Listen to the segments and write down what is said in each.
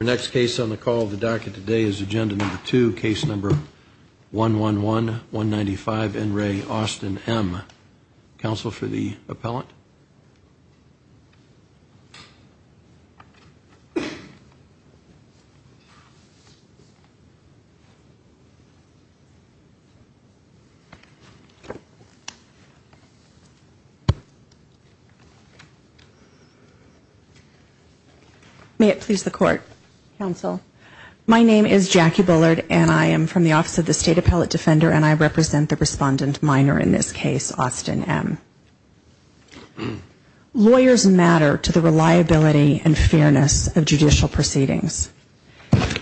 The next case on the call of the docket today is agenda number 2, case number 111-195, N. Ray Austin M. Counsel for the appellant? May it please the court, counsel. My name is Jackie Bullard and I am from the Office of the State Appellate Defender and I represent the respondent minor in this case, Austin M. Lawyers matter to the reliability and fairness of judicial proceedings.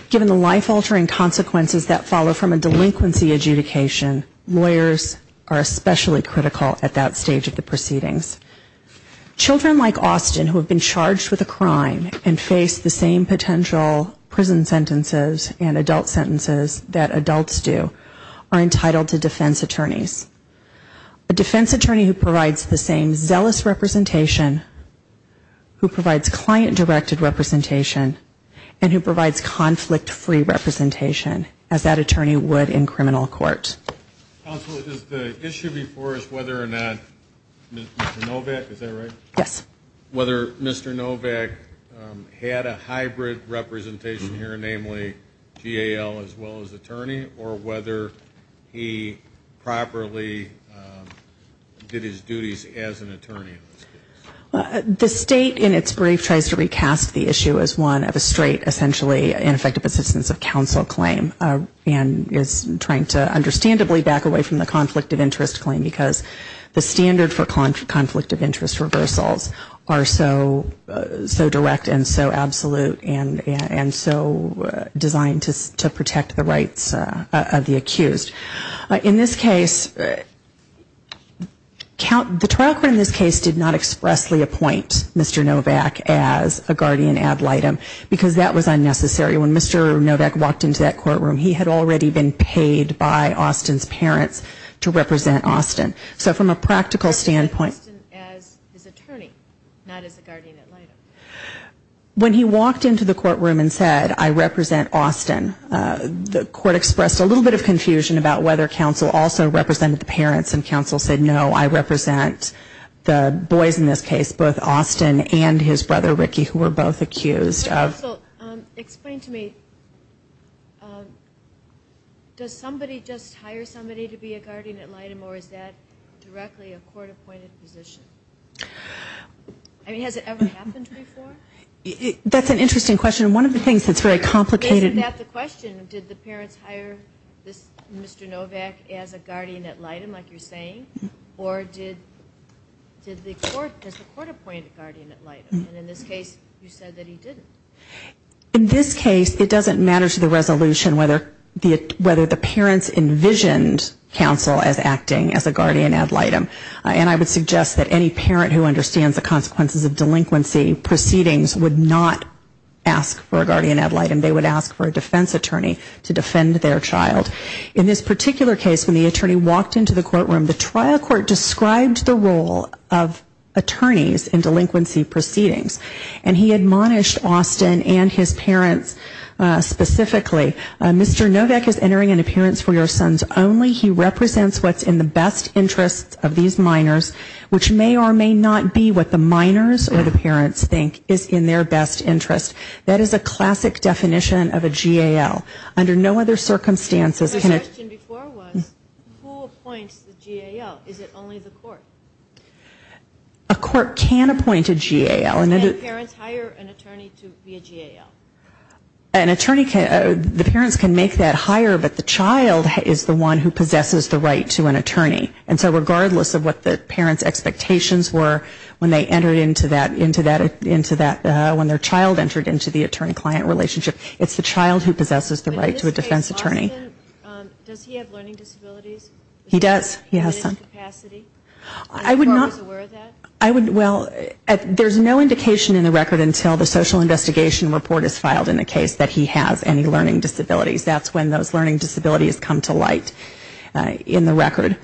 Given the life altering consequences that follow from a delinquency adjudication, lawyers are especially critical at that stage of the proceedings. Children like Austin, who have been charged with a crime and face the same potential prison sentences and adult sentences that adults do, are entitled to defense attorneys. A defense attorney who provides a defense attorney for a criminal offense who provides the same zealous representation, who provides client-directed representation, and who provides conflict-free representation as that attorney would in criminal court. Counsel, the issue before us, whether or not Mr. Novak, is that right? Yes. Whether Mr. Novak had a hybrid representation here, namely GAL as well as attorney, or whether he properly did his due diligence as an attorney in this case? The state in its brief tries to recast the issue as one of a straight essentially ineffective assistance of counsel claim and is trying to understandably back away from the conflict of interest claim because the standard for conflict of interest reversals are so direct and so absolute and so designed to protect the rights of the accused. In this case, the trial court in this case did not expressly appoint Mr. Novak as a guardian ad litem because that was unnecessary. When Mr. Novak walked into that courtroom, he had already been paid by Austin's parents to represent Austin. So from a practical standpoint, when he walked into the courtroom and said, I represent Austin, the court expressed a little bit of concern about whether counsel also represented the parents and counsel said, no, I represent the boys in this case, both Austin and his brother Ricky who were both accused of... Counsel, explain to me, does somebody just hire somebody to be a guardian ad litem or is that directly a court-appointed position? I mean, has it ever happened before? That's an interesting question. One of the things that's very complicated... Isn't that the question? Did the parents hire Mr. Novak as a guardian ad litem like you're saying? Or did the court, does the court appoint a guardian ad litem? And in this case, you said that he didn't. In this case, it doesn't matter to the resolution whether the parents envisioned counsel as acting as a guardian ad litem. And I would suggest that any parent who understands the consequences of delinquency proceedings would not ask for a guardian ad litem. They would ask for a defense attorney to defend their child. In this particular case, when the attorney walked into the courtroom, the trial court described the role of attorneys in delinquency proceedings. And he admonished Austin and his parents specifically. Mr. Novak is entering an appearance for your sons only. He's entering an appearance for these minors, which may or may not be what the minors or the parents think is in their best interest. That is a classic definition of a GAL. Under no other circumstances... The question before was, who appoints the GAL? Is it only the court? A court can appoint a GAL. And parents hire an attorney to be a GAL. An attorney can, the parents can make that hire, but the child is the one who possesses the right to an attorney. And so regardless of what the parents' expectations were when they entered into that, when their child entered into the attorney- client relationship, it's the child who possesses the right to a defense attorney. Does he have learning disabilities? He does, yes. Does he have diminished capacity? Well, there's no indication in the record until the social investigation report is filed in the case that he has any learning disabilities. That's when those learning disabilities come to light in the record.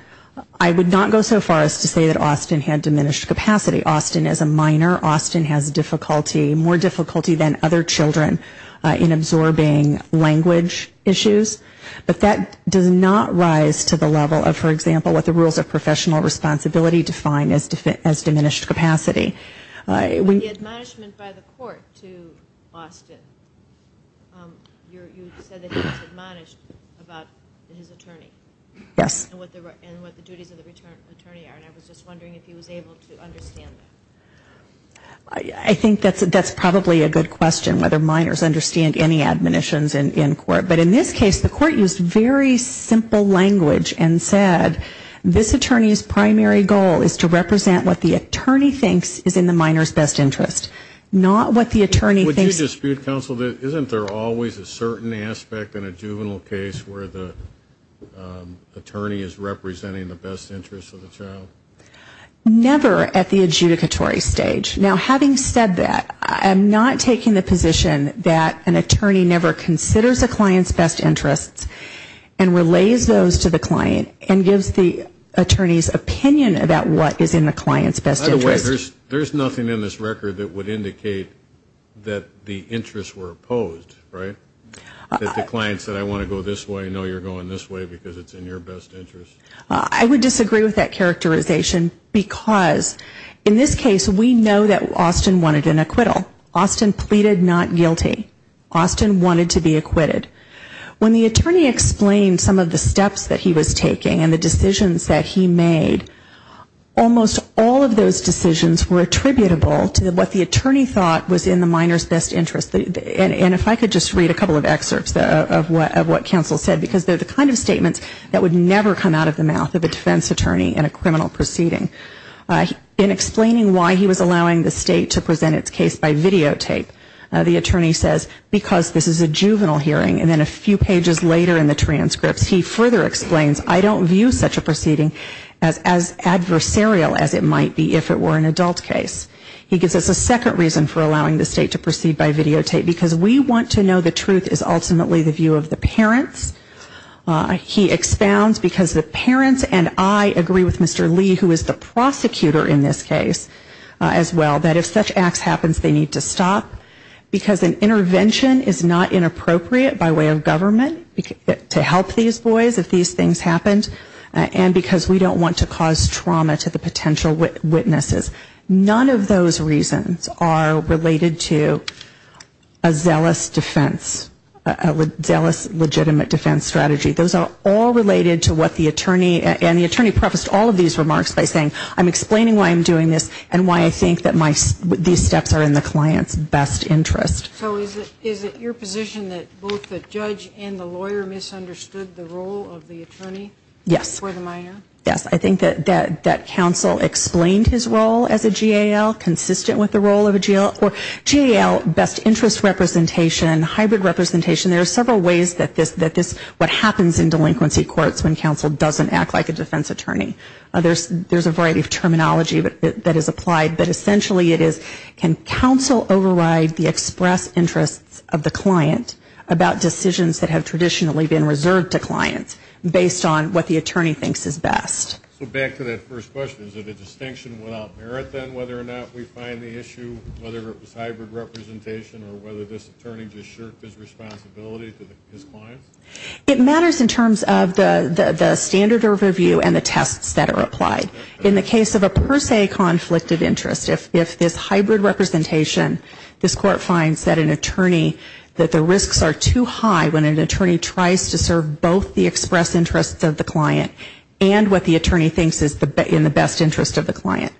I would not go so far as to say that Austin had diminished capacity. Austin is a minor. Austin has difficulty, more difficulty than other children in absorbing language issues. But that does not rise to the level of, for example, what the rules of professional responsibility define as diminished capacity. But the admonishment by the court to Austin, you said that he was admonished about his attorney. Yes. And what the duties of the attorney are, and I was just wondering if he was able to understand that. I think that's probably a good question, whether minors understand any admonitions in court. But in this case, the court used very simple language and said, this attorney's primary goal is to represent what the attorney thinks is in the minor's best interest, not what the attorney thinks- Would you dispute, counsel, isn't there always a certain aspect in a juvenile case where the attorney is representing the best interest of the child? Never at the adjudicatory stage. Now, having said that, I'm not taking the position that an attorney never considers a client's best interest and relays those to the client and gives the attorney's opinion about what is in the client's best interest. By the way, there's nothing in this record that would indicate that the interests were opposed, right? That the client said, I want to go this way, no, you're going this way because it's in your best interest. I would disagree with that characterization, because in this case, we know that Austin wanted an acquittal. Austin pleaded not guilty. Austin wanted to be acquitted. When the attorney explained some of the steps that he was taking and the decisions that he made, almost all of those decisions were attributable to what the attorney thought was in the minor's best interest. And if I could just read a couple of excerpts of what counsel said, because they're the kind of statements that would never come out of a minor's best interest. He said, I don't view such a proceeding as adversarial as it might be if it were an adult case. He gives us a second reason for allowing the state to proceed by videotape, because we want to know the truth is ultimately the view of the parents. He expounds, because the parents are the ones who are going to decide what is in the best interest of the client. And I agree with Mr. Lee, who is the prosecutor in this case, as well, that if such acts happens, they need to stop, because an intervention is not inappropriate by way of government to help these boys if these things happened, and because we don't want to cause trauma to the potential witnesses. None of those reasons are related to a zealous defense, a zealous legitimate defense strategy. Those are all related to what the attorney, and the attorney prefaced all of these remarks by saying, I'm explaining why I'm doing this, and why I think that my, these steps are in the client's best interest. So is it your position that both the judge and the lawyer misunderstood the role of the attorney? Yes. For the minor? Yes, I think that counsel explained his role as a GAL, consistent with the role of a GAL, or GAL, best interest representation, hybrid representation, there are several ways that this, what happens in delinquency courts when counsel doesn't act like a defense attorney. There's a variety of terminology that is applied, but essentially it is, can counsel override the express interests of the client about decisions that have traditionally been reserved to clients, based on what the attorney thinks is best. So back to that first question, is it a distinction without merit, then, whether or not we find the issue, whether it was hybrid representation, or whether this attorney just shirked his responsibility to his clients? It matters in terms of the standard overview and the tests that are applied. In the case of a per se conflict of interest, if this hybrid representation, this court finds that an attorney, that the risks are too high when an attorney tries to serve both the express interests of the client and what the attorney thinks is in the best interest of the client,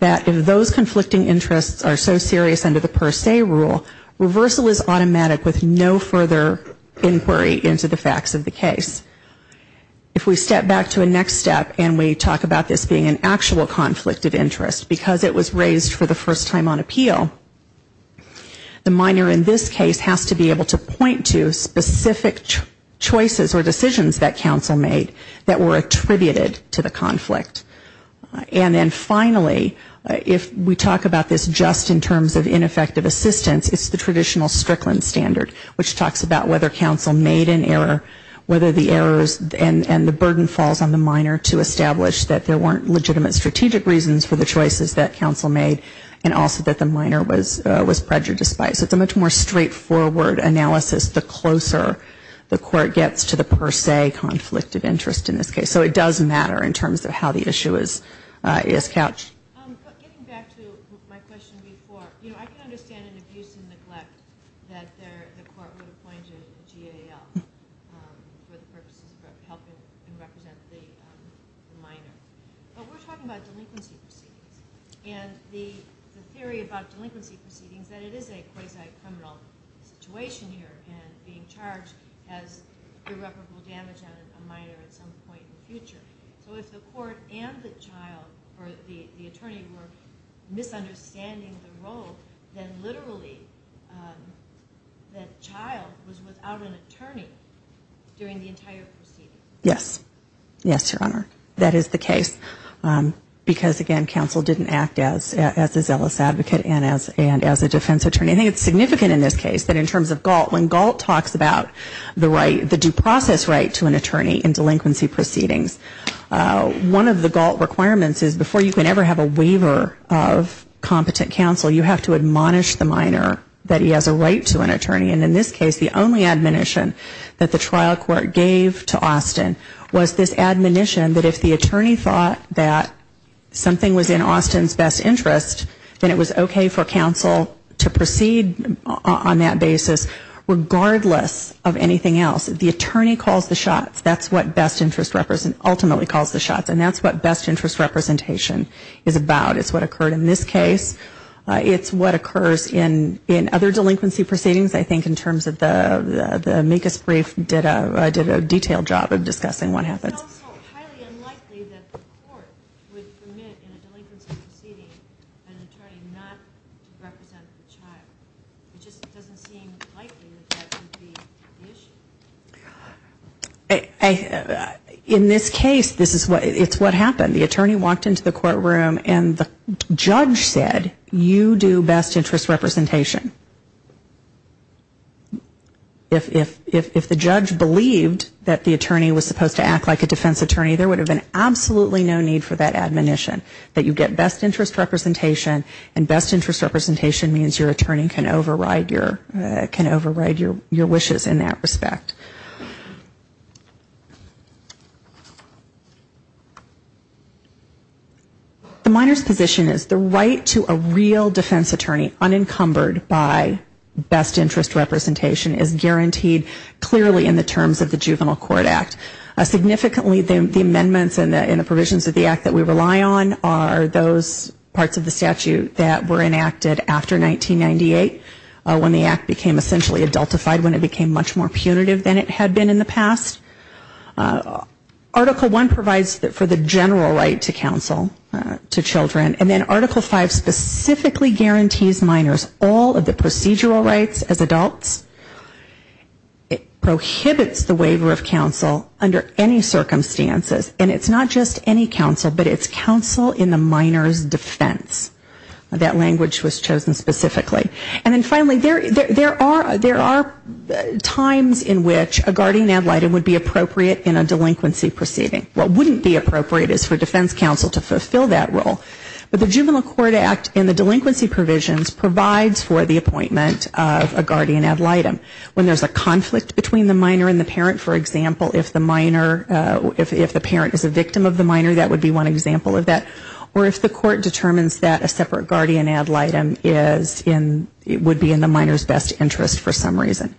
that if those conflicting interests are so serious under the per se rule, reversal is automatic with no further inquiry into the facts of the case. If we step back to a next step and we talk about this being an actual conflict of interest, because it was raised for the first time on the basis of specific choices or decisions that counsel made that were attributed to the conflict. And then finally, if we talk about this just in terms of ineffective assistance, it's the traditional Strickland standard, which talks about whether counsel made an error, whether the errors and the burden falls on the minor to establish that there weren't legitimate strategic reasons for the choices that counsel made, and also that the minor was prejudiced by it. So it's a much more straightforward analysis the closer the court gets to the per se conflict of interest in this case. So it does matter in terms of how the issue is couched. Getting back to my question before, you know, I can understand an abuse and neglect that the court would appoint a GAL for the purposes of helping represent the minor. But we're talking about delinquency proceedings and the theory about delinquency proceedings that it is a quasi-criminal situation here and being charged as irreparable damage on a minor at some point in the future. So if the court and the child or the attorney were misunderstanding the role, then literally the child was without an attorney during the case, because again, counsel didn't act as a zealous advocate and as a defense attorney. I think it's significant in this case that in terms of GALT, when GALT talks about the right, the due process right to an attorney in delinquency proceedings, one of the GALT requirements is before you can ever have a waiver of competent counsel, you have to admonish the minor that he has a right to an attorney. And in this case, the only admonition that the trial court gave to Austin was this admonition that if the attorney thought that something was in Austin's best interest, then it was okay for counsel to proceed on that basis, regardless of anything else. The attorney calls the shots. That's what best interest representation is about. It's what occurred in this case. It's what occurs in other delinquency proceedings, I think, in terms of the amicus brief did a detailed job of discussing what happens. It's also highly unlikely that the court would permit in a delinquency proceeding an attorney not to represent the child. It just doesn't seem likely that that would be the issue. In this case, it's what happened. The attorney walked into the courtroom and the judge said, you do best interest representation. If the judge believed that the attorney was supposed to act like a defense attorney, there would have been absolutely no need for that admonition, that you get best interest representation, and best interest representation means your attorney can override your wishes in that respect. The minor's position is the right to a real defense attorney unencumbered by best interest representation is guaranteed clearly in the terms of the Juvenile Court Act. Significantly, the amendments and the provisions of the Act that we rely on are those parts of the statute that were enacted after 1998, when the Act became essentially adultified, when it became much more punitive than it had been in the past. Article I provides for the general right to counsel to children, and then Article V specifically guarantees minors all of the procedural rights as adults. It prohibits the waiver of counsel under any circumstances, and it's not just any counsel, but it's counsel in the minor's defense. That language was chosen specifically. And then finally, there are times in which a guardian ad litem would be appropriate in a delinquency proceeding. What wouldn't be appropriate is for defense counsel to fulfill that role. But the Juvenile Court Act and the delinquency provisions provides for the appointment of a guardian ad litem. When there's a conflict between the minor and the parent, for example, if the minor, if the parent is a victim of the minor, that would be one example of that, or if the court determines that a separate guardian ad litem would be in the minor's best interest for some reason.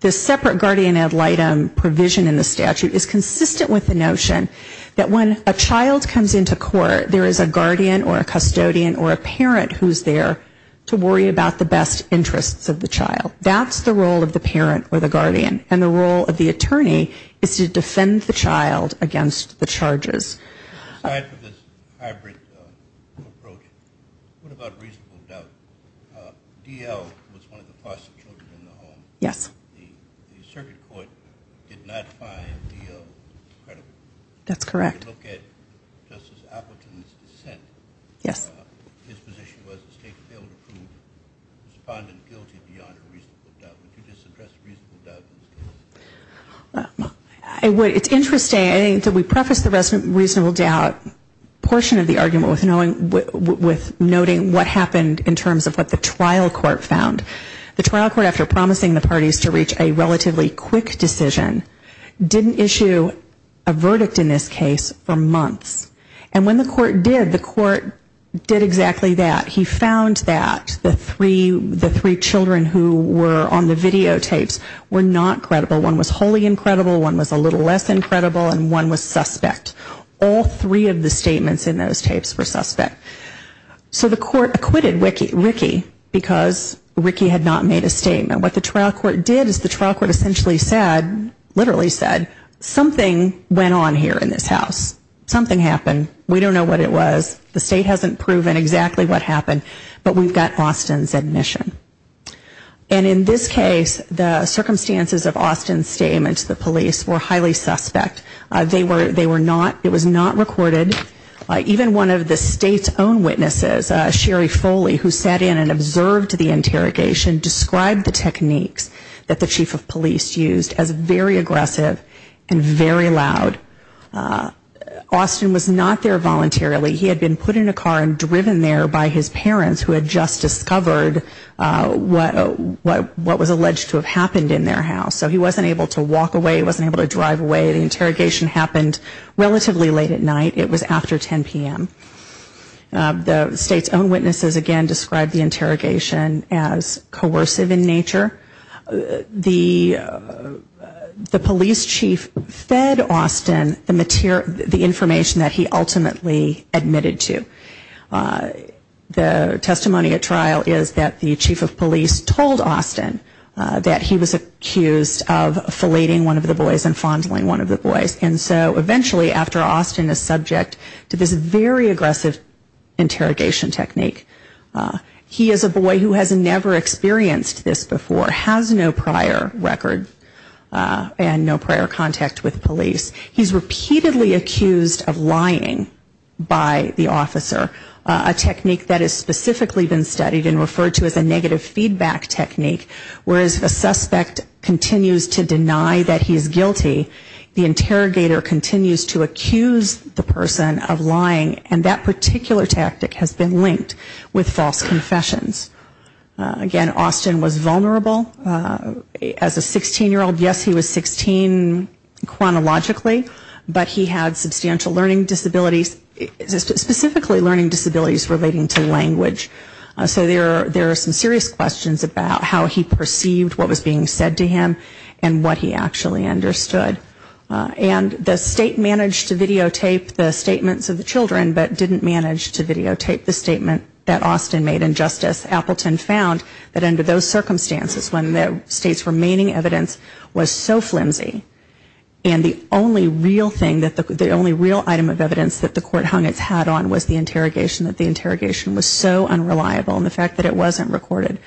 The separate guardian ad litem provision in the statute is consistent with the notion that when a child comes into court, there is a guardian or a custodian or a parent who's there to worry about the best interests of the child. That's the role of the parent or the attorney, is to defend the child against the charges. Aside from this hybrid approach, what about reasonable doubt? D.L. was one of the foster children in the home. The circuit court did not find D.L. credible. If you look at Justice Appleton's dissent, his position was the state failed to prove the respondent guilty beyond a reasonable doubt. Would you disagree with that? D.L. It's interesting, we preface the reasonable doubt portion of the argument with noting what happened in terms of what the trial court found. The trial court, after promising the parties to reach a relatively quick decision, didn't issue a verdict in this case for months. And when the court did, the court did exactly that. He found that the three children who were on the video, the three children who were on the video, the three children who were on the videotapes, were not credible. One was wholly incredible, one was a little less incredible, and one was suspect. All three of the statements in those tapes were suspect. So the court acquitted Ricky because Ricky had not made a statement. What the trial court did is the trial court essentially said, literally said, something went on here in this house. Something happened. We don't know what it was. The state hasn't proven exactly what happened. But we've got Austin's admission. The circumstances of Austin's statement to the police were highly suspect. They were not, it was not recorded. Even one of the state's own witnesses, Sherry Foley, who sat in and observed the interrogation, described the techniques that the chief of police used as very aggressive and very loud. Austin was not there voluntarily. He had been put in a car and driven there by his parents who had just discovered what was alleged to have happened in their house. So he wasn't able to walk away, wasn't able to drive away. The interrogation happened relatively late at night. It was after 10 p.m. The state's own witnesses, again, described the interrogation as coercive in nature. The police chief fed Austin the information that he ultimately admitted to. The testimony at trial is that the chief of police told Austin that he was not aware of the incident. He was accused of fellating one of the boys and fondling one of the boys. And so eventually after Austin is subject to this very aggressive interrogation technique, he is a boy who has never experienced this before, has no prior record, and no prior contact with police. He's repeatedly accused of lying by the officer, a technique that has specifically been studied and referred to as a negative feedback technique, whereas if a suspect continues to deny that he's guilty, the interrogator continues to accuse the person of lying, and that particular tactic has been linked with false confessions. Again, Austin was vulnerable. As a 16-year-old, yes, he was 16 chronologically, but he had substantial learning disabilities, specifically learning disabilities relating to language. So there are some serious questions about how he perceived what was being said to him and what he actually understood. And the state managed to videotape the statements of the children, but didn't manage to videotape the statement that Austin made. And just as Appleton found, that under those circumstances, when the state's remaining evidence was so flimsy, and the only real thing that the only real item of evidence that the court hung its hat on was the interrogation, that the interrogation was so unreliable, and the fact that it wasn't recorded,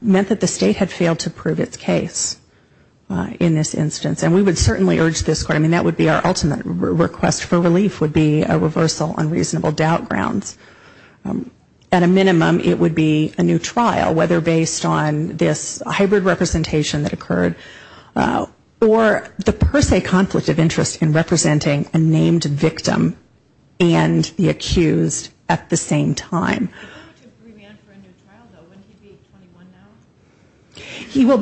meant that the state had failed to prove its case in this instance. And we would certainly urge this court, I mean, that would be our ultimate request for relief, would be a reversal on reasonable doubt grounds. At a minimum, it would be a new trial, whether based on this hybrid representation that occurred, or the per se conflict of interest in representing a named victim and the accused at the same time. He will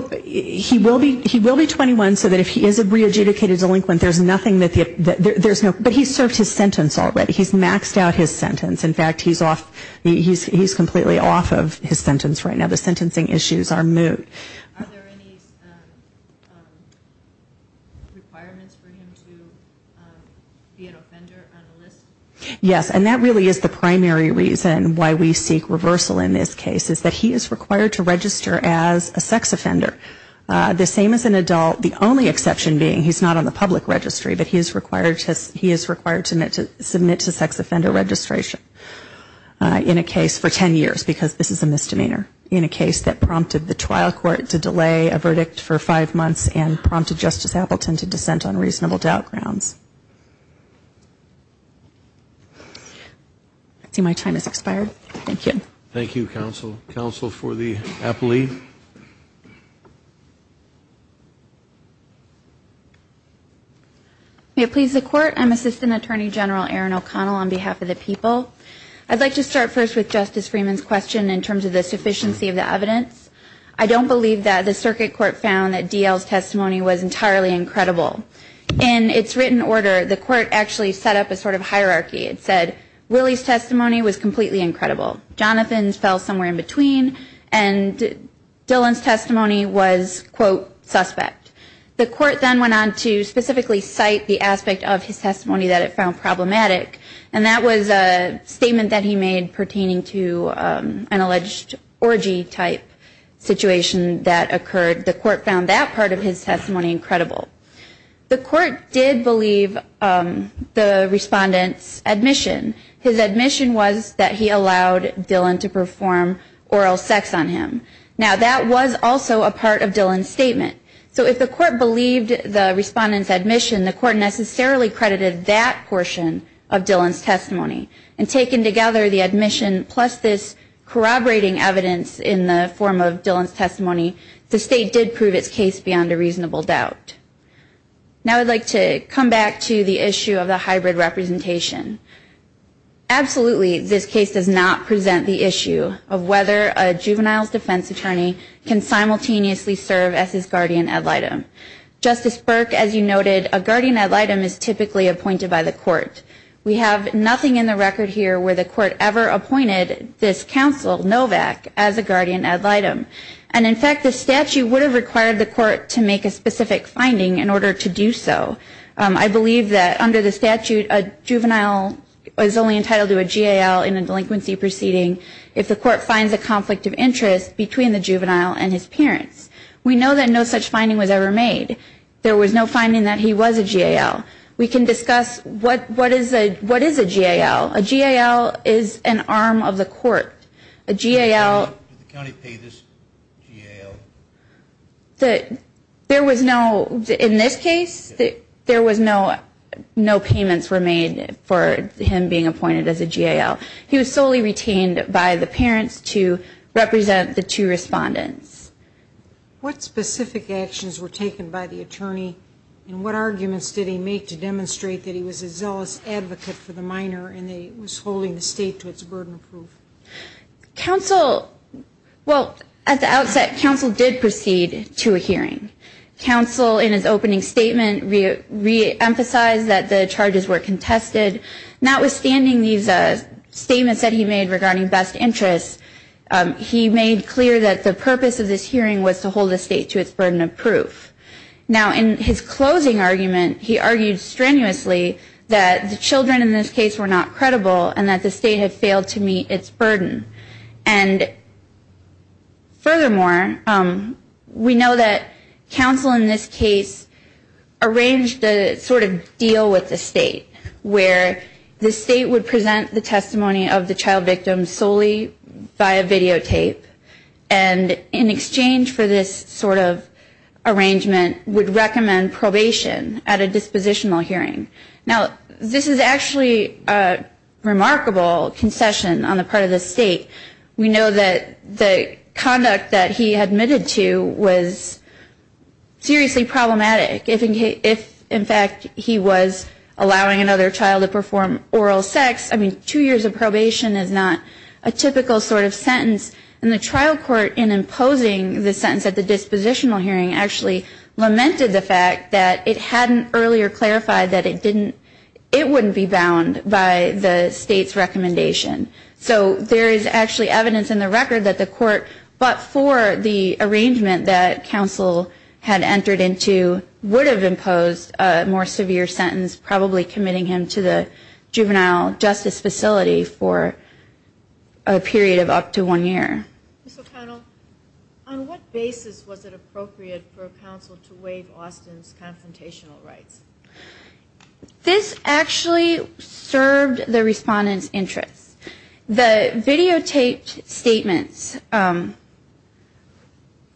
be 21 so that if he is a re-adjudicated delinquent, there's nothing that there's no, but he's served his sentence already. He's maxed out his sentence. In fact, he's off, he's completely off of his sentence right now. The sentencing issues are moot. Are there any requirements for him to be an offender on the list? Yes, and that really is the primary reason why we seek reversal in this case, is that he is required to register as a sex offender. The same as an adult, the only exception being he's not on the public registry, but he is required to submit to sex offender registration in a case for 10 years, because this is a misdemeanor, in a case that prompted the trial court to do so. It prompted the trial court to delay a verdict for five months, and prompted Justice Appleton to dissent on reasonable doubt grounds. I see my time has expired. Thank you. Thank you, counsel. Counsel for the appellee. May it please the court, I'm Assistant Attorney General Erin O'Connell on behalf of the people. I'd like to start first with Justice Freeman's question in terms of the sufficiency of the evidence. I don't believe that the circuit court found that D.L.'s testimony was entirely incredible. In its written order, the court actually set up a sort of hierarchy. It said, Willie's testimony was completely incredible. Jonathan's fell somewhere in between, and Dylan's testimony was, quote, suspect. The court then went on to specifically cite the aspect of his testimony that it found problematic, and that was a statement that he made pertaining to an alleged orgy-type situation that occurred. The court found that part of his testimony incredible. The court did believe the respondent's admission. His admission was that he allowed Dylan to perform oral sex on him. Now, that was also a part of Dylan's statement. So if the court believed the respondent's admission, the court necessarily credited that to the admission, plus this corroborating evidence in the form of Dylan's testimony, the state did prove its case beyond a reasonable doubt. Now I'd like to come back to the issue of the hybrid representation. Absolutely, this case does not present the issue of whether a juvenile's defense attorney can simultaneously serve as his guardian ad litem. Justice Burke, as you noted, a guardian ad litem is typically appointed by the court. We have nothing in the record here where the court has never appointed this counsel, Novak, as a guardian ad litem. And in fact, the statute would have required the court to make a specific finding in order to do so. I believe that under the statute, a juvenile is only entitled to a GAL in a delinquency proceeding if the court finds a conflict of interest between the juvenile and his parents. We know that no such finding was ever made. There was no finding that he was a GAL. We can discuss what is a GAL. A GAL is an obligation. It's an obligation to the court. It's an arm of the court. A GAL... There was no, in this case, there was no payments were made for him being appointed as a GAL. He was solely retained by the parents to represent the two respondents. What specific actions were taken by the attorney and what arguments did he make to demonstrate that he was a zealous advocate for the minor and that he was holding the state to its burden of proof? Counsel, well, at the outset, counsel did proceed to a hearing. Counsel, in his opening statement, reemphasized that the charges were contested. Notwithstanding these statements that he made regarding best interests, he made clear that the purpose of this hearing was to hold the state to its burden of proof. Now, in his closing argument, he argued strenuously that the children in this case were not credible and that the state had failed to meet its burden. And furthermore, we know that counsel in this case arranged a sort of deal with the state, where the state would present the testimony of the child victim solely via videotape, and in exchange for this sort of arrangement, would recommend probation at a dispositional hearing. Now, this is actually a remarkable concession on the part of the state. We know that the conduct that he admitted to was seriously problematic. If, in fact, he was allowing another child to perform oral sex, I mean, two years of probation is not a typical sort of sentence. And the trial court, in imposing the sentence at the dispositional hearing, actually lamented the fact that it hadn't earlier clarified that it didn't, it wouldn't be bound by the state's recommendation. So there is actually evidence in the record that the court, but for the arrangement that counsel had entered into, would have imposed a more severe sentence, probably committing him to the juvenile justice facility for a period of up to one year. Ms. O'Connell, on what basis was it appropriate for counsel to waive Austin's confrontational rights? This actually served the respondent's interests. The videotaped statements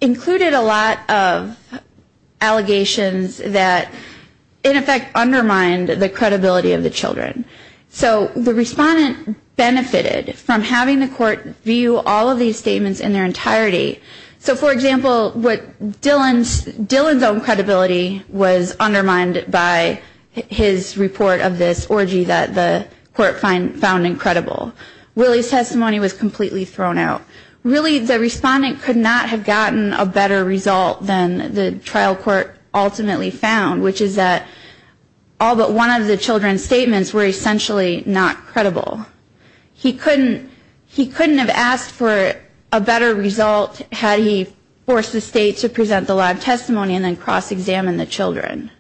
included a lot of allegations that, in effect, undermined the credibility of the children. So the respondent benefited from having the court view all of these statements in their entirety. So, for example, what Dillon's, Dillon's own credibility was undermined by the defendant's own credibility. His report of this orgy that the court found incredible. Willie's testimony was completely thrown out. Really, the respondent could not have gotten a better result than the trial court ultimately found, which is that all but one of the children's statements were essentially not credible. He couldn't, he couldn't have asked for a better result had he forced the state to present the live testimony and then cross-examine the children.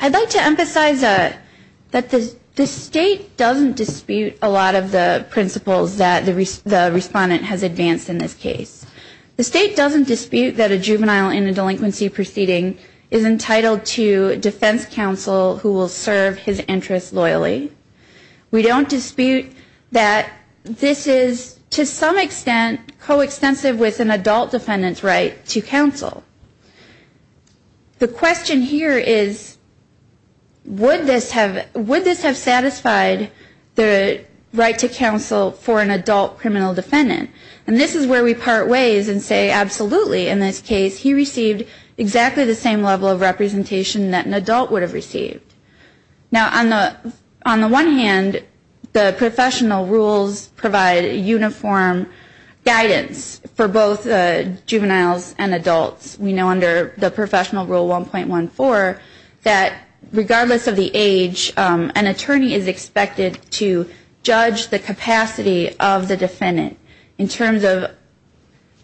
I'd like to emphasize that the state doesn't dispute a lot of the principles that the respondent has advanced in this case. The state doesn't dispute that a juvenile in a delinquency proceeding is entitled to defense counsel who will serve his interests loyally. We don't dispute that this is to some extent coextensive with an adult defendant's right to counsel. The question here is, would this have, would this have satisfied the right to counsel for an adult criminal defendant? And this is where we part ways and say, absolutely, in this case he received exactly the same level of representation that an adult would have received. Now, on the one hand, the professional rules provide uniform guidance for both juveniles and adults. We know under the professional rule 1.14, that regardless of the age, an attorney is expected to judge the capacity of the defendant in terms of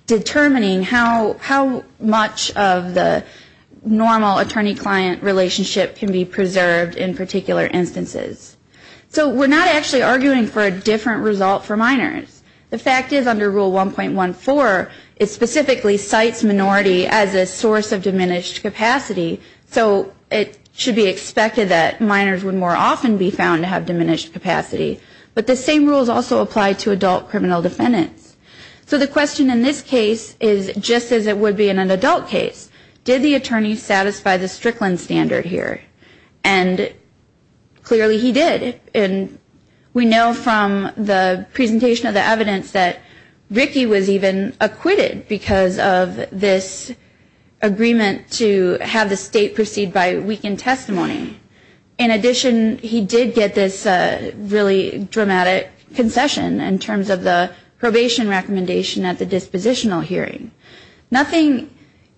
determining how much of the normal attorney-client relationship can be preserved and how much of the capacity of the defendant can be preserved in particular instances. So we're not actually arguing for a different result for minors. The fact is under rule 1.14, it specifically cites minority as a source of diminished capacity, so it should be expected that minors would more often be found to have diminished capacity. But the same rules also apply to adult criminal defendants. So the question in this case is just as it would be in an adult case, did the attorney satisfy the Strickland standard here? And clearly he did. And we know from the presentation of the evidence that Ricky was even acquitted because of this agreement to have the state proceed by weakened testimony. In addition, he did get this really dramatic concession in terms of the probation recommendation at the dispositional hearing. Nothing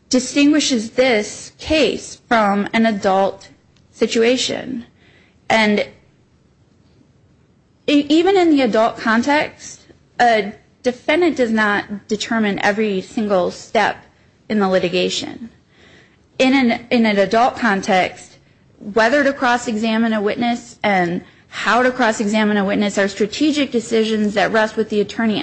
distinguishes this case from an adult situation. And even in the adult context, a defendant does not determine every single step in the litigation. In an adult context, whether to cross-examine a witness and how to cross-examine a witness are strategic decisions that rest with the attorney.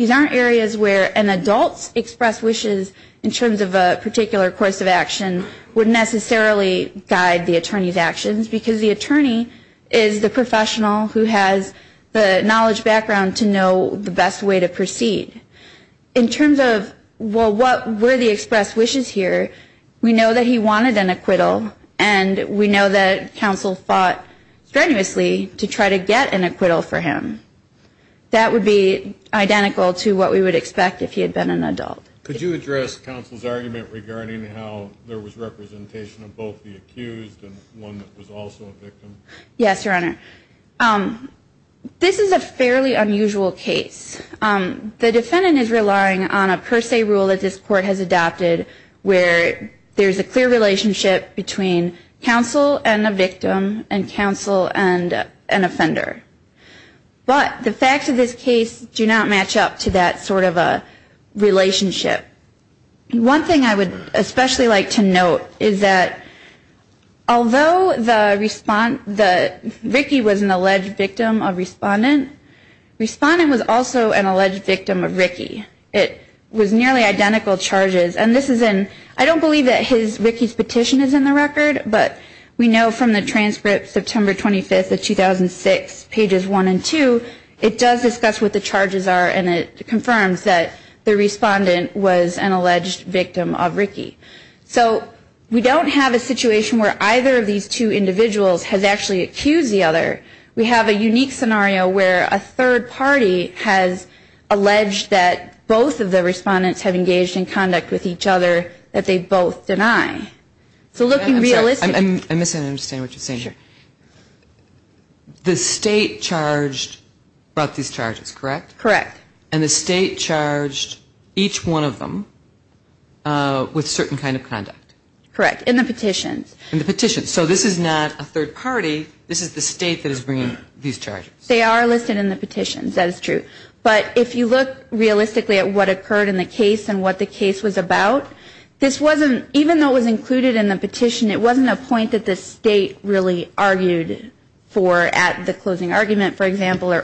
An adult's expressed wishes in terms of a particular course of action would necessarily guide the attorney's actions, because the attorney is the professional who has the knowledge background to know the best way to proceed. In terms of, well, what were the expressed wishes here, we know that he wanted an acquittal, and we know that counsel fought strenuously to try to get an acquittal for him. That would be identical to what we would expect if he was acquitted. He was acquitted because he had been an adult. Could you address counsel's argument regarding how there was representation of both the accused and one that was also a victim? Yes, Your Honor. This is a fairly unusual case. The defendant is relying on a per se rule that this Court has adopted where there's a clear relationship between counsel and a victim and counsel and an offender. But the facts of this case do not match up to that sort of a relationship. One thing I would especially like to note is that although Ricky was an alleged victim of Respondent, Respondent was also an alleged victim of Ricky. It was nearly identical charges, and this is in, I don't believe that Ricky's petition is in the record, but we know from the transcript, September 25th of 2006, pages one and two, it does discuss what the charges are, and it confirms that there really was an alleged victim of Ricky. So we don't have a situation where either of these two individuals has actually accused the other. We have a unique scenario where a third party has alleged that both of the Respondents have engaged in conduct with each other that they both deny. So looking realistically... I'm sorry, I'm misunderstanding what you're saying here. The State charged, brought these charges, correct? Correct. And the State charged each one of them with certain kind of conduct? Correct, in the petitions. In the petitions. So this is not a third party, this is the State that is bringing these charges. They are listed in the petitions, that is true. But if you look realistically at what occurred in the case and what the case was about, this wasn't, even though it was included in the petition, it wasn't a point that the State really argued for at the closing argument, for example, or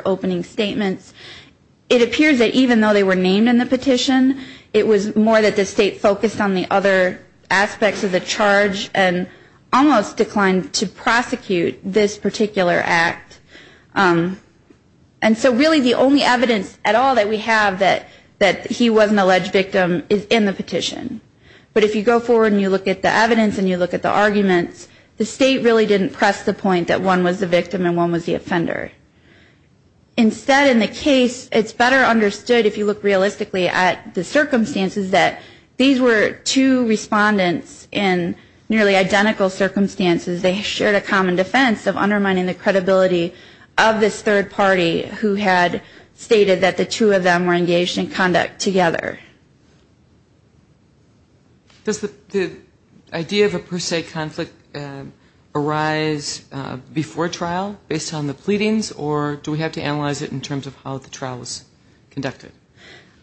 it appears that even though they were named in the petition, it was more that the State focused on the other aspects of the charge and almost declined to prosecute this particular act. And so really the only evidence at all that we have that he was an alleged victim is in the petition. But if you go forward and you look at the evidence and you look at the arguments, the State really didn't press the point that one was the victim and one was the offender. Instead, in the case, it's better understood if you look realistically at the circumstances that these were two respondents in nearly identical circumstances. They shared a common defense of undermining the credibility of this third party who had stated that the two of them were engaged in conduct together. Does the idea of a per se conflict arise before trial based on the pleadings? Or do we have to analyze it in terms of how the trial was conducted?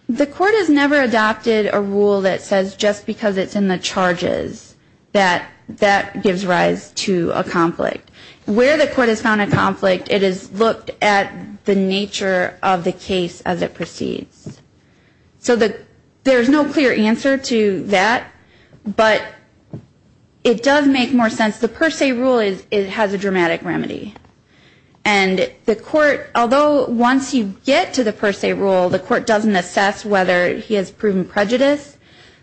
The court has never adopted a rule that says just because it's in the charges that that gives rise to a conflict. Where the court has found a conflict, it has looked at the nature of the case as it proceeds. So there's no clear answer to that, but it does make more sense, the per se rule has a dramatic remedy. And the court, although once you get to the per se rule, the court doesn't assess whether he has proven prejudice,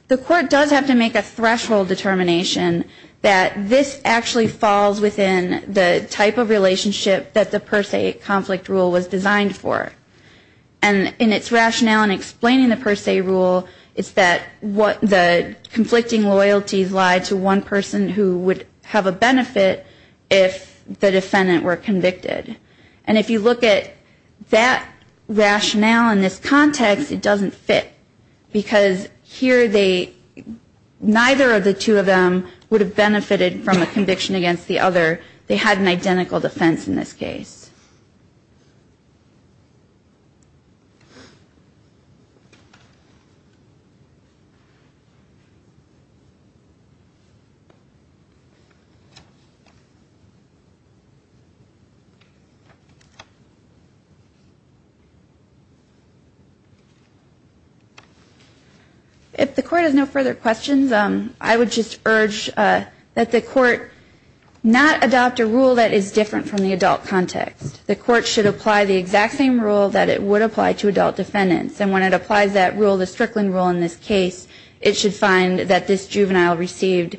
the court does have to make a threshold determination that this actually falls within the type of relationship that the per se conflict rule was designed for. And in its rationale in explaining the per se rule is that the conflicting loyalties lie to one person who would have a benefit if the defendant were convicted. And if you look at that rationale in this context, it doesn't fit. Because here they, neither of the two of them would have benefited from a conviction against the other. They had an identical defense in this case. If the court has no further questions, I would just urge that the court not adopt a rule that is different from the adult context. The court should apply the exact same rule that it would apply to adult defendants. And when it applies that rule, the Strickland rule in this case, it should find that this juvenile received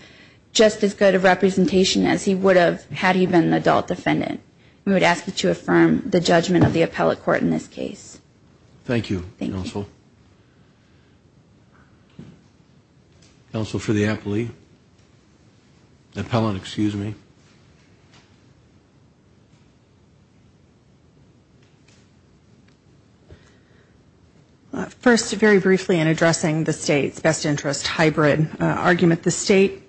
just as good a representation as he would have had he been an adult defendant. We would ask that you affirm the judgment of the appellate court in this case. Thank you, counsel. Counsel for the appellate? First, very briefly in addressing the state's best interest hybrid argument, the state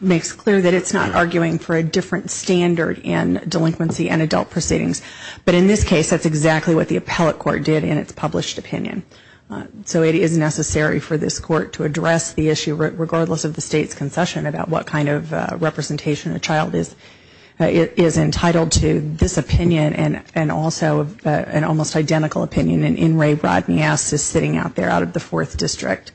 makes clear that it's not arguing for a different standard in delinquency and adult proceedings. But in this case, that's exactly what the appellate court did in its published opinion. So it is necessary for this court to address the issue, regardless of the state's concession, about what kind of representation a child is entitled to this opinion and also an almost identical opinion. And in Ray Rodney asks, is sitting out there out of the fourth district,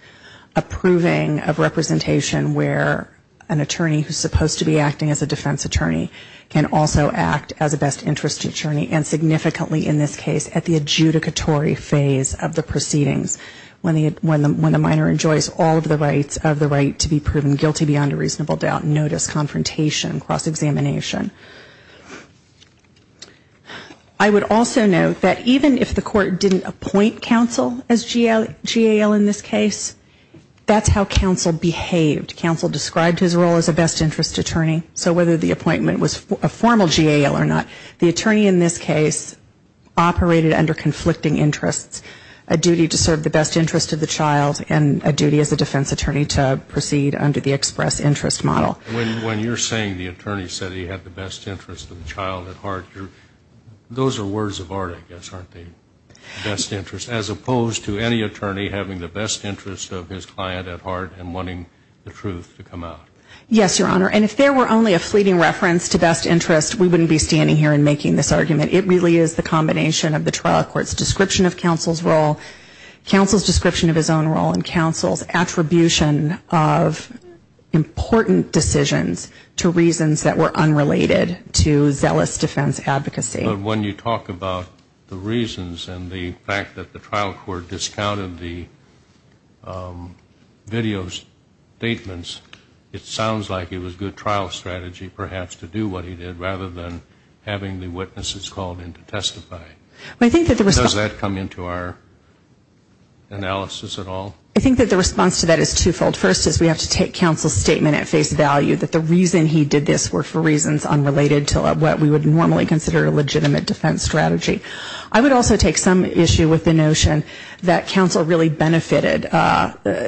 approving a representation where an attorney who is supposed to be acting as a defense attorney is not. And the state can also act as a best interest attorney and significantly in this case at the adjudicatory phase of the proceedings, when the minor enjoys all of the rights of the right to be proven guilty beyond a reasonable doubt, notice, confrontation, cross-examination. I would also note that even if the court didn't appoint counsel as GAL in this case, that's how counsel behaved. Counsel described his role as a best interest attorney. So whether the appointment was a formal GAL or not, the attorney in this case operated under conflicting interests, a duty to serve the best interest of the child and a duty as a defense attorney to proceed under the express interest model. When you're saying the attorney said he had the best interest of the child at heart, those are words of art, I guess, aren't they? Best interest of the child and the best interest of the defense attorney. And if there were only a fleeting reference to best interest, we wouldn't be standing here and making this argument. It really is the combination of the trial court's description of counsel's role, counsel's description of his own role, and counsel's attribution of important decisions to reasons that were unrelated to zealous defense advocacy. But when you talk about the reasons and the fact that the trial court discounted the video statements, it sounds like it was good trial strategy perhaps to do what he did rather than having the witnesses called in to testify. Does that come into our analysis at all? I think that the response to that is twofold. First is we have to take counsel's statement at face value that the reason he did this were for reasons unrelated to what we would normally consider a legitimate defense strategy. I would also take some issue with the notion that counsel really benefited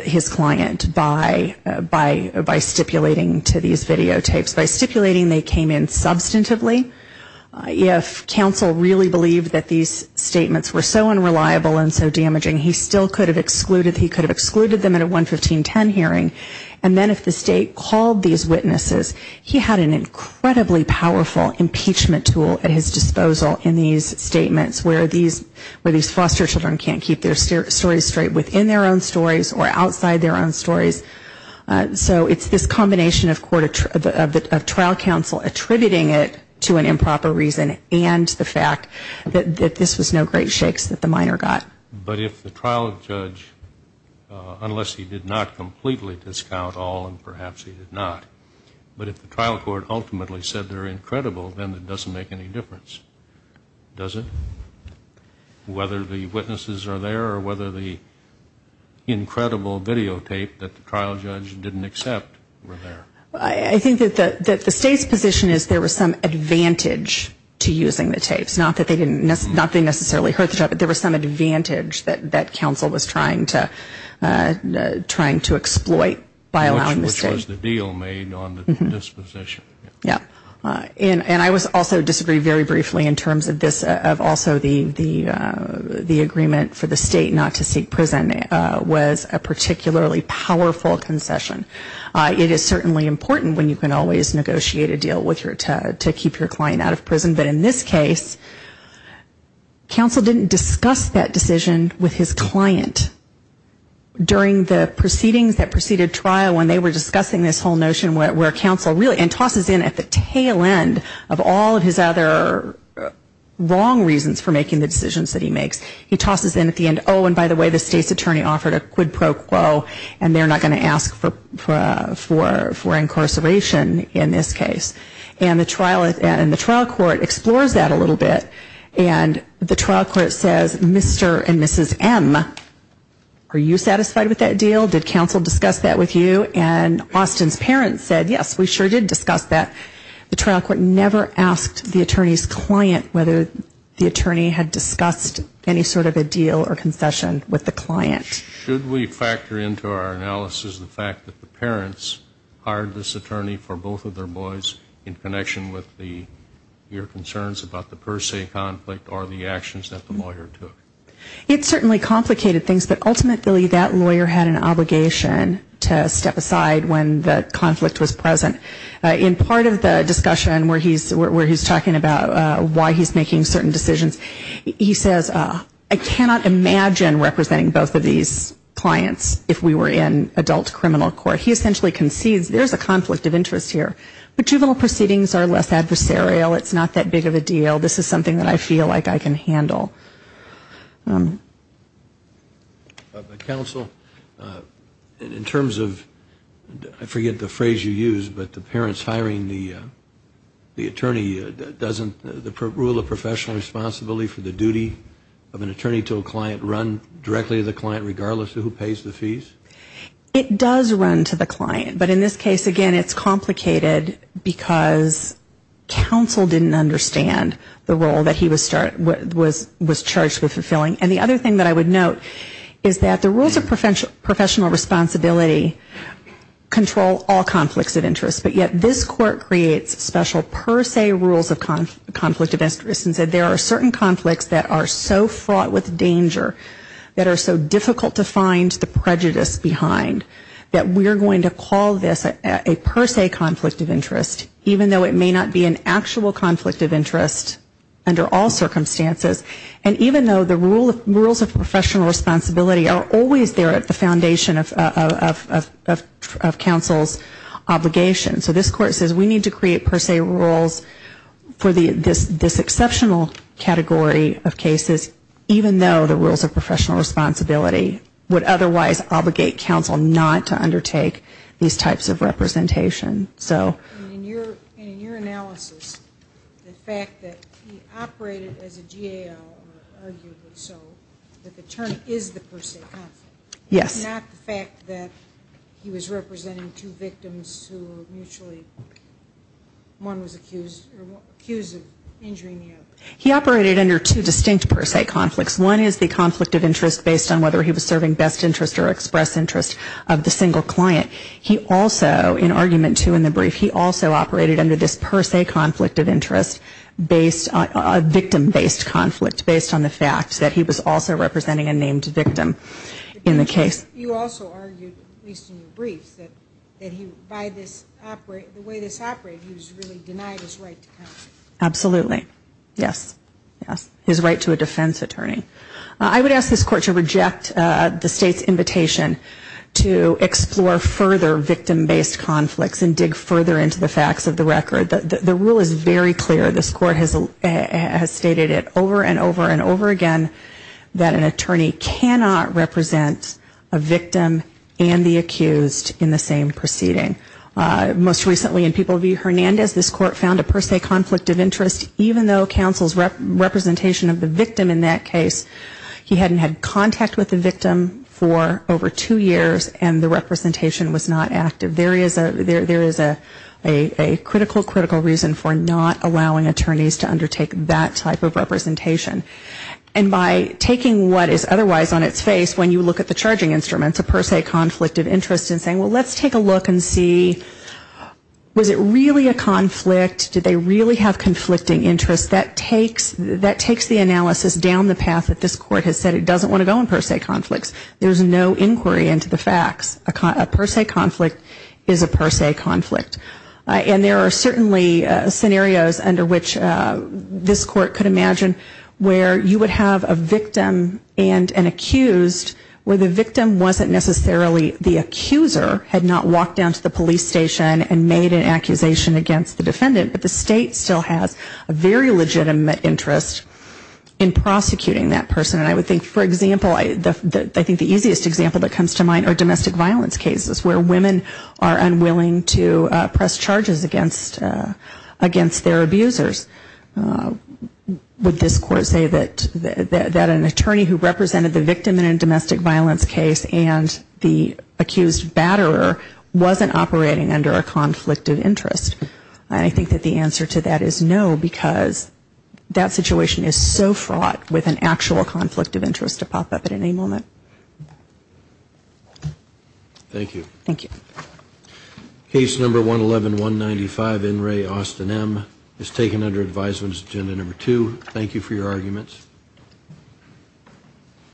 his client by stipulating to these videotapes, by stipulating they came in substantively. If counsel really believed that these statements were so unreliable and so damaging, he still could have excluded them at a 11510 hearing, and then if the state called these witnesses, he had an incredibly powerful impeachment tool at his disposal in these statements where these foster children can't keep their stories straight within their own stories or outside their own stories. So it's this combination of trial counsel attributing it to an improper reason and the fact that this was no great shakes that the minor got. But if the trial judge, unless he did not completely discount all, and perhaps he did not, but if the trial court ultimately said they're incredible, then it doesn't make any difference, does it? Whether the witnesses are there or whether the incredible videotape that the trial judge didn't accept were there. I think that the state's position is there was some advantage to using the tapes. Not that they necessarily hurt the child, but there was some advantage that counsel was trying to exploit by allowing the state. Which was the deal made on the disposition. Yes. And I also disagree very briefly in terms of this, of also the agreement for the state not to seek prison was a particularly powerful concession. It is certainly important when you can always negotiate a deal to keep your client out of prison. But in this case, counsel didn't discuss that decision with his client during the proceedings that preceded trial when they were discussing this whole notion where counsel really, and tosses in at the tail end of all of his other wrong reasons for making the decisions that he makes. He tosses in at the end, oh, and by the way, the state's attorney offered a quid pro quo and they're not going to ask for incarceration in this case. And the trial court explores that a little bit. And the trial court says, Mr. and Mrs. M, are you satisfied with that deal? Did counsel discuss that with you? And Austin's parents said, yes, we sure did discuss that. The trial court never asked the attorney's client whether the attorney had discussed any sort of a deal or concession with the client. Should we factor into our analysis the fact that the parents hired this attorney for both of their boys in connection with your concerns about the per se conflict or the actions that the lawyer took? It certainly complicated things, but ultimately that lawyer had an obligation to step aside when the conflict was present. In part of the discussion where he's talking about why he's making certain decisions, he says, I cannot imagine representing both of these clients if we were in adult criminal court. He essentially concedes there's a conflict of interest here. But juvenile proceedings are less adversarial. It's not that big of a deal. This is something that I feel like I can handle. Counsel, in terms of, I forget the phrase you used, but the parents hiring the attorney doesn't rule a professional responsibility for the client, regardless of who pays the fees? It does run to the client. But in this case, again, it's complicated because counsel didn't understand the role that he was charged with fulfilling. And the other thing that I would note is that the rules of professional responsibility control all conflicts of interest, but yet this court creates special per se rules of conflict of interest and said there are certain conflicts that are so fraught with danger that are so difficult to find the prejudice behind that we're going to call this a per se conflict of interest, even though it may not be an actual conflict of interest under all circumstances. And even though the rules of professional responsibility are always there at the foundation of counsel's obligation. So this court says we need to create per se rules for this exceptional category of cases, even though the rules of professional responsibility would otherwise obligate counsel not to undertake these types of representation. And in your analysis, the fact that he operated as a GAL, or arguably so, that the term is the per se conflict, not the fact that he was representing two victims who were mutually, one was accused of injuring the other. He operated under two distinct per se conflicts. One is the conflict of interest based on whether he was serving best interest or express interest of the single client. He also, in argument two in the brief, he also operated under this per se conflict of interest based on a victim-based conflict, based on the fact that he was also representing a named victim in the case. You also argued, at least in your brief, that by the way this operated, he was really denying his right to counsel. Absolutely. Yes. Yes. His right to a defense attorney. I would ask this court to reject the state's invitation to explore further victim-based conflicts and dig further into the facts of the record. The rule is very clear. This court has stated it over and over and over again that an attorney cannot represent a victim and the accused in the same proceeding. Most recently in People v. Hernandez, this court found a per se conflict of interest even though counsel's representation of the victim in that case, he hadn't had contact with the victim for over two years and the representation was not active. There is a critical, critical reason for not allowing attorneys to undertake that type of representation. And by taking what is otherwise on its face, when you look at the charging instruments, a per se conflict of interest and saying, well, let's take a look and see, was it really a conflict? Did they really have conflicting interests? That takes the analysis down the path that this court has said it doesn't want to go in per se conflicts. There's no inquiry into the facts. A per se conflict is a per se conflict. And there are certainly scenarios under which this court could imagine where you would have a victim and an accused where the offender had not walked down to the police station and made an accusation against the defendant, but the state still has a very legitimate interest in prosecuting that person. And I would think, for example, I think the easiest example that comes to mind are domestic violence cases where women are unwilling to press charges against their abusers. Would this court say that an attorney who represented the victim in a domestic violence case and the accused battered up the offender wasn't operating under a conflict of interest? And I think that the answer to that is no, because that situation is so fraught with an actual conflict of interest to pop up at any moment. Thank you. Case number 111195, In re Austin M, is taken under advisement agenda number two. Thank you for your arguments.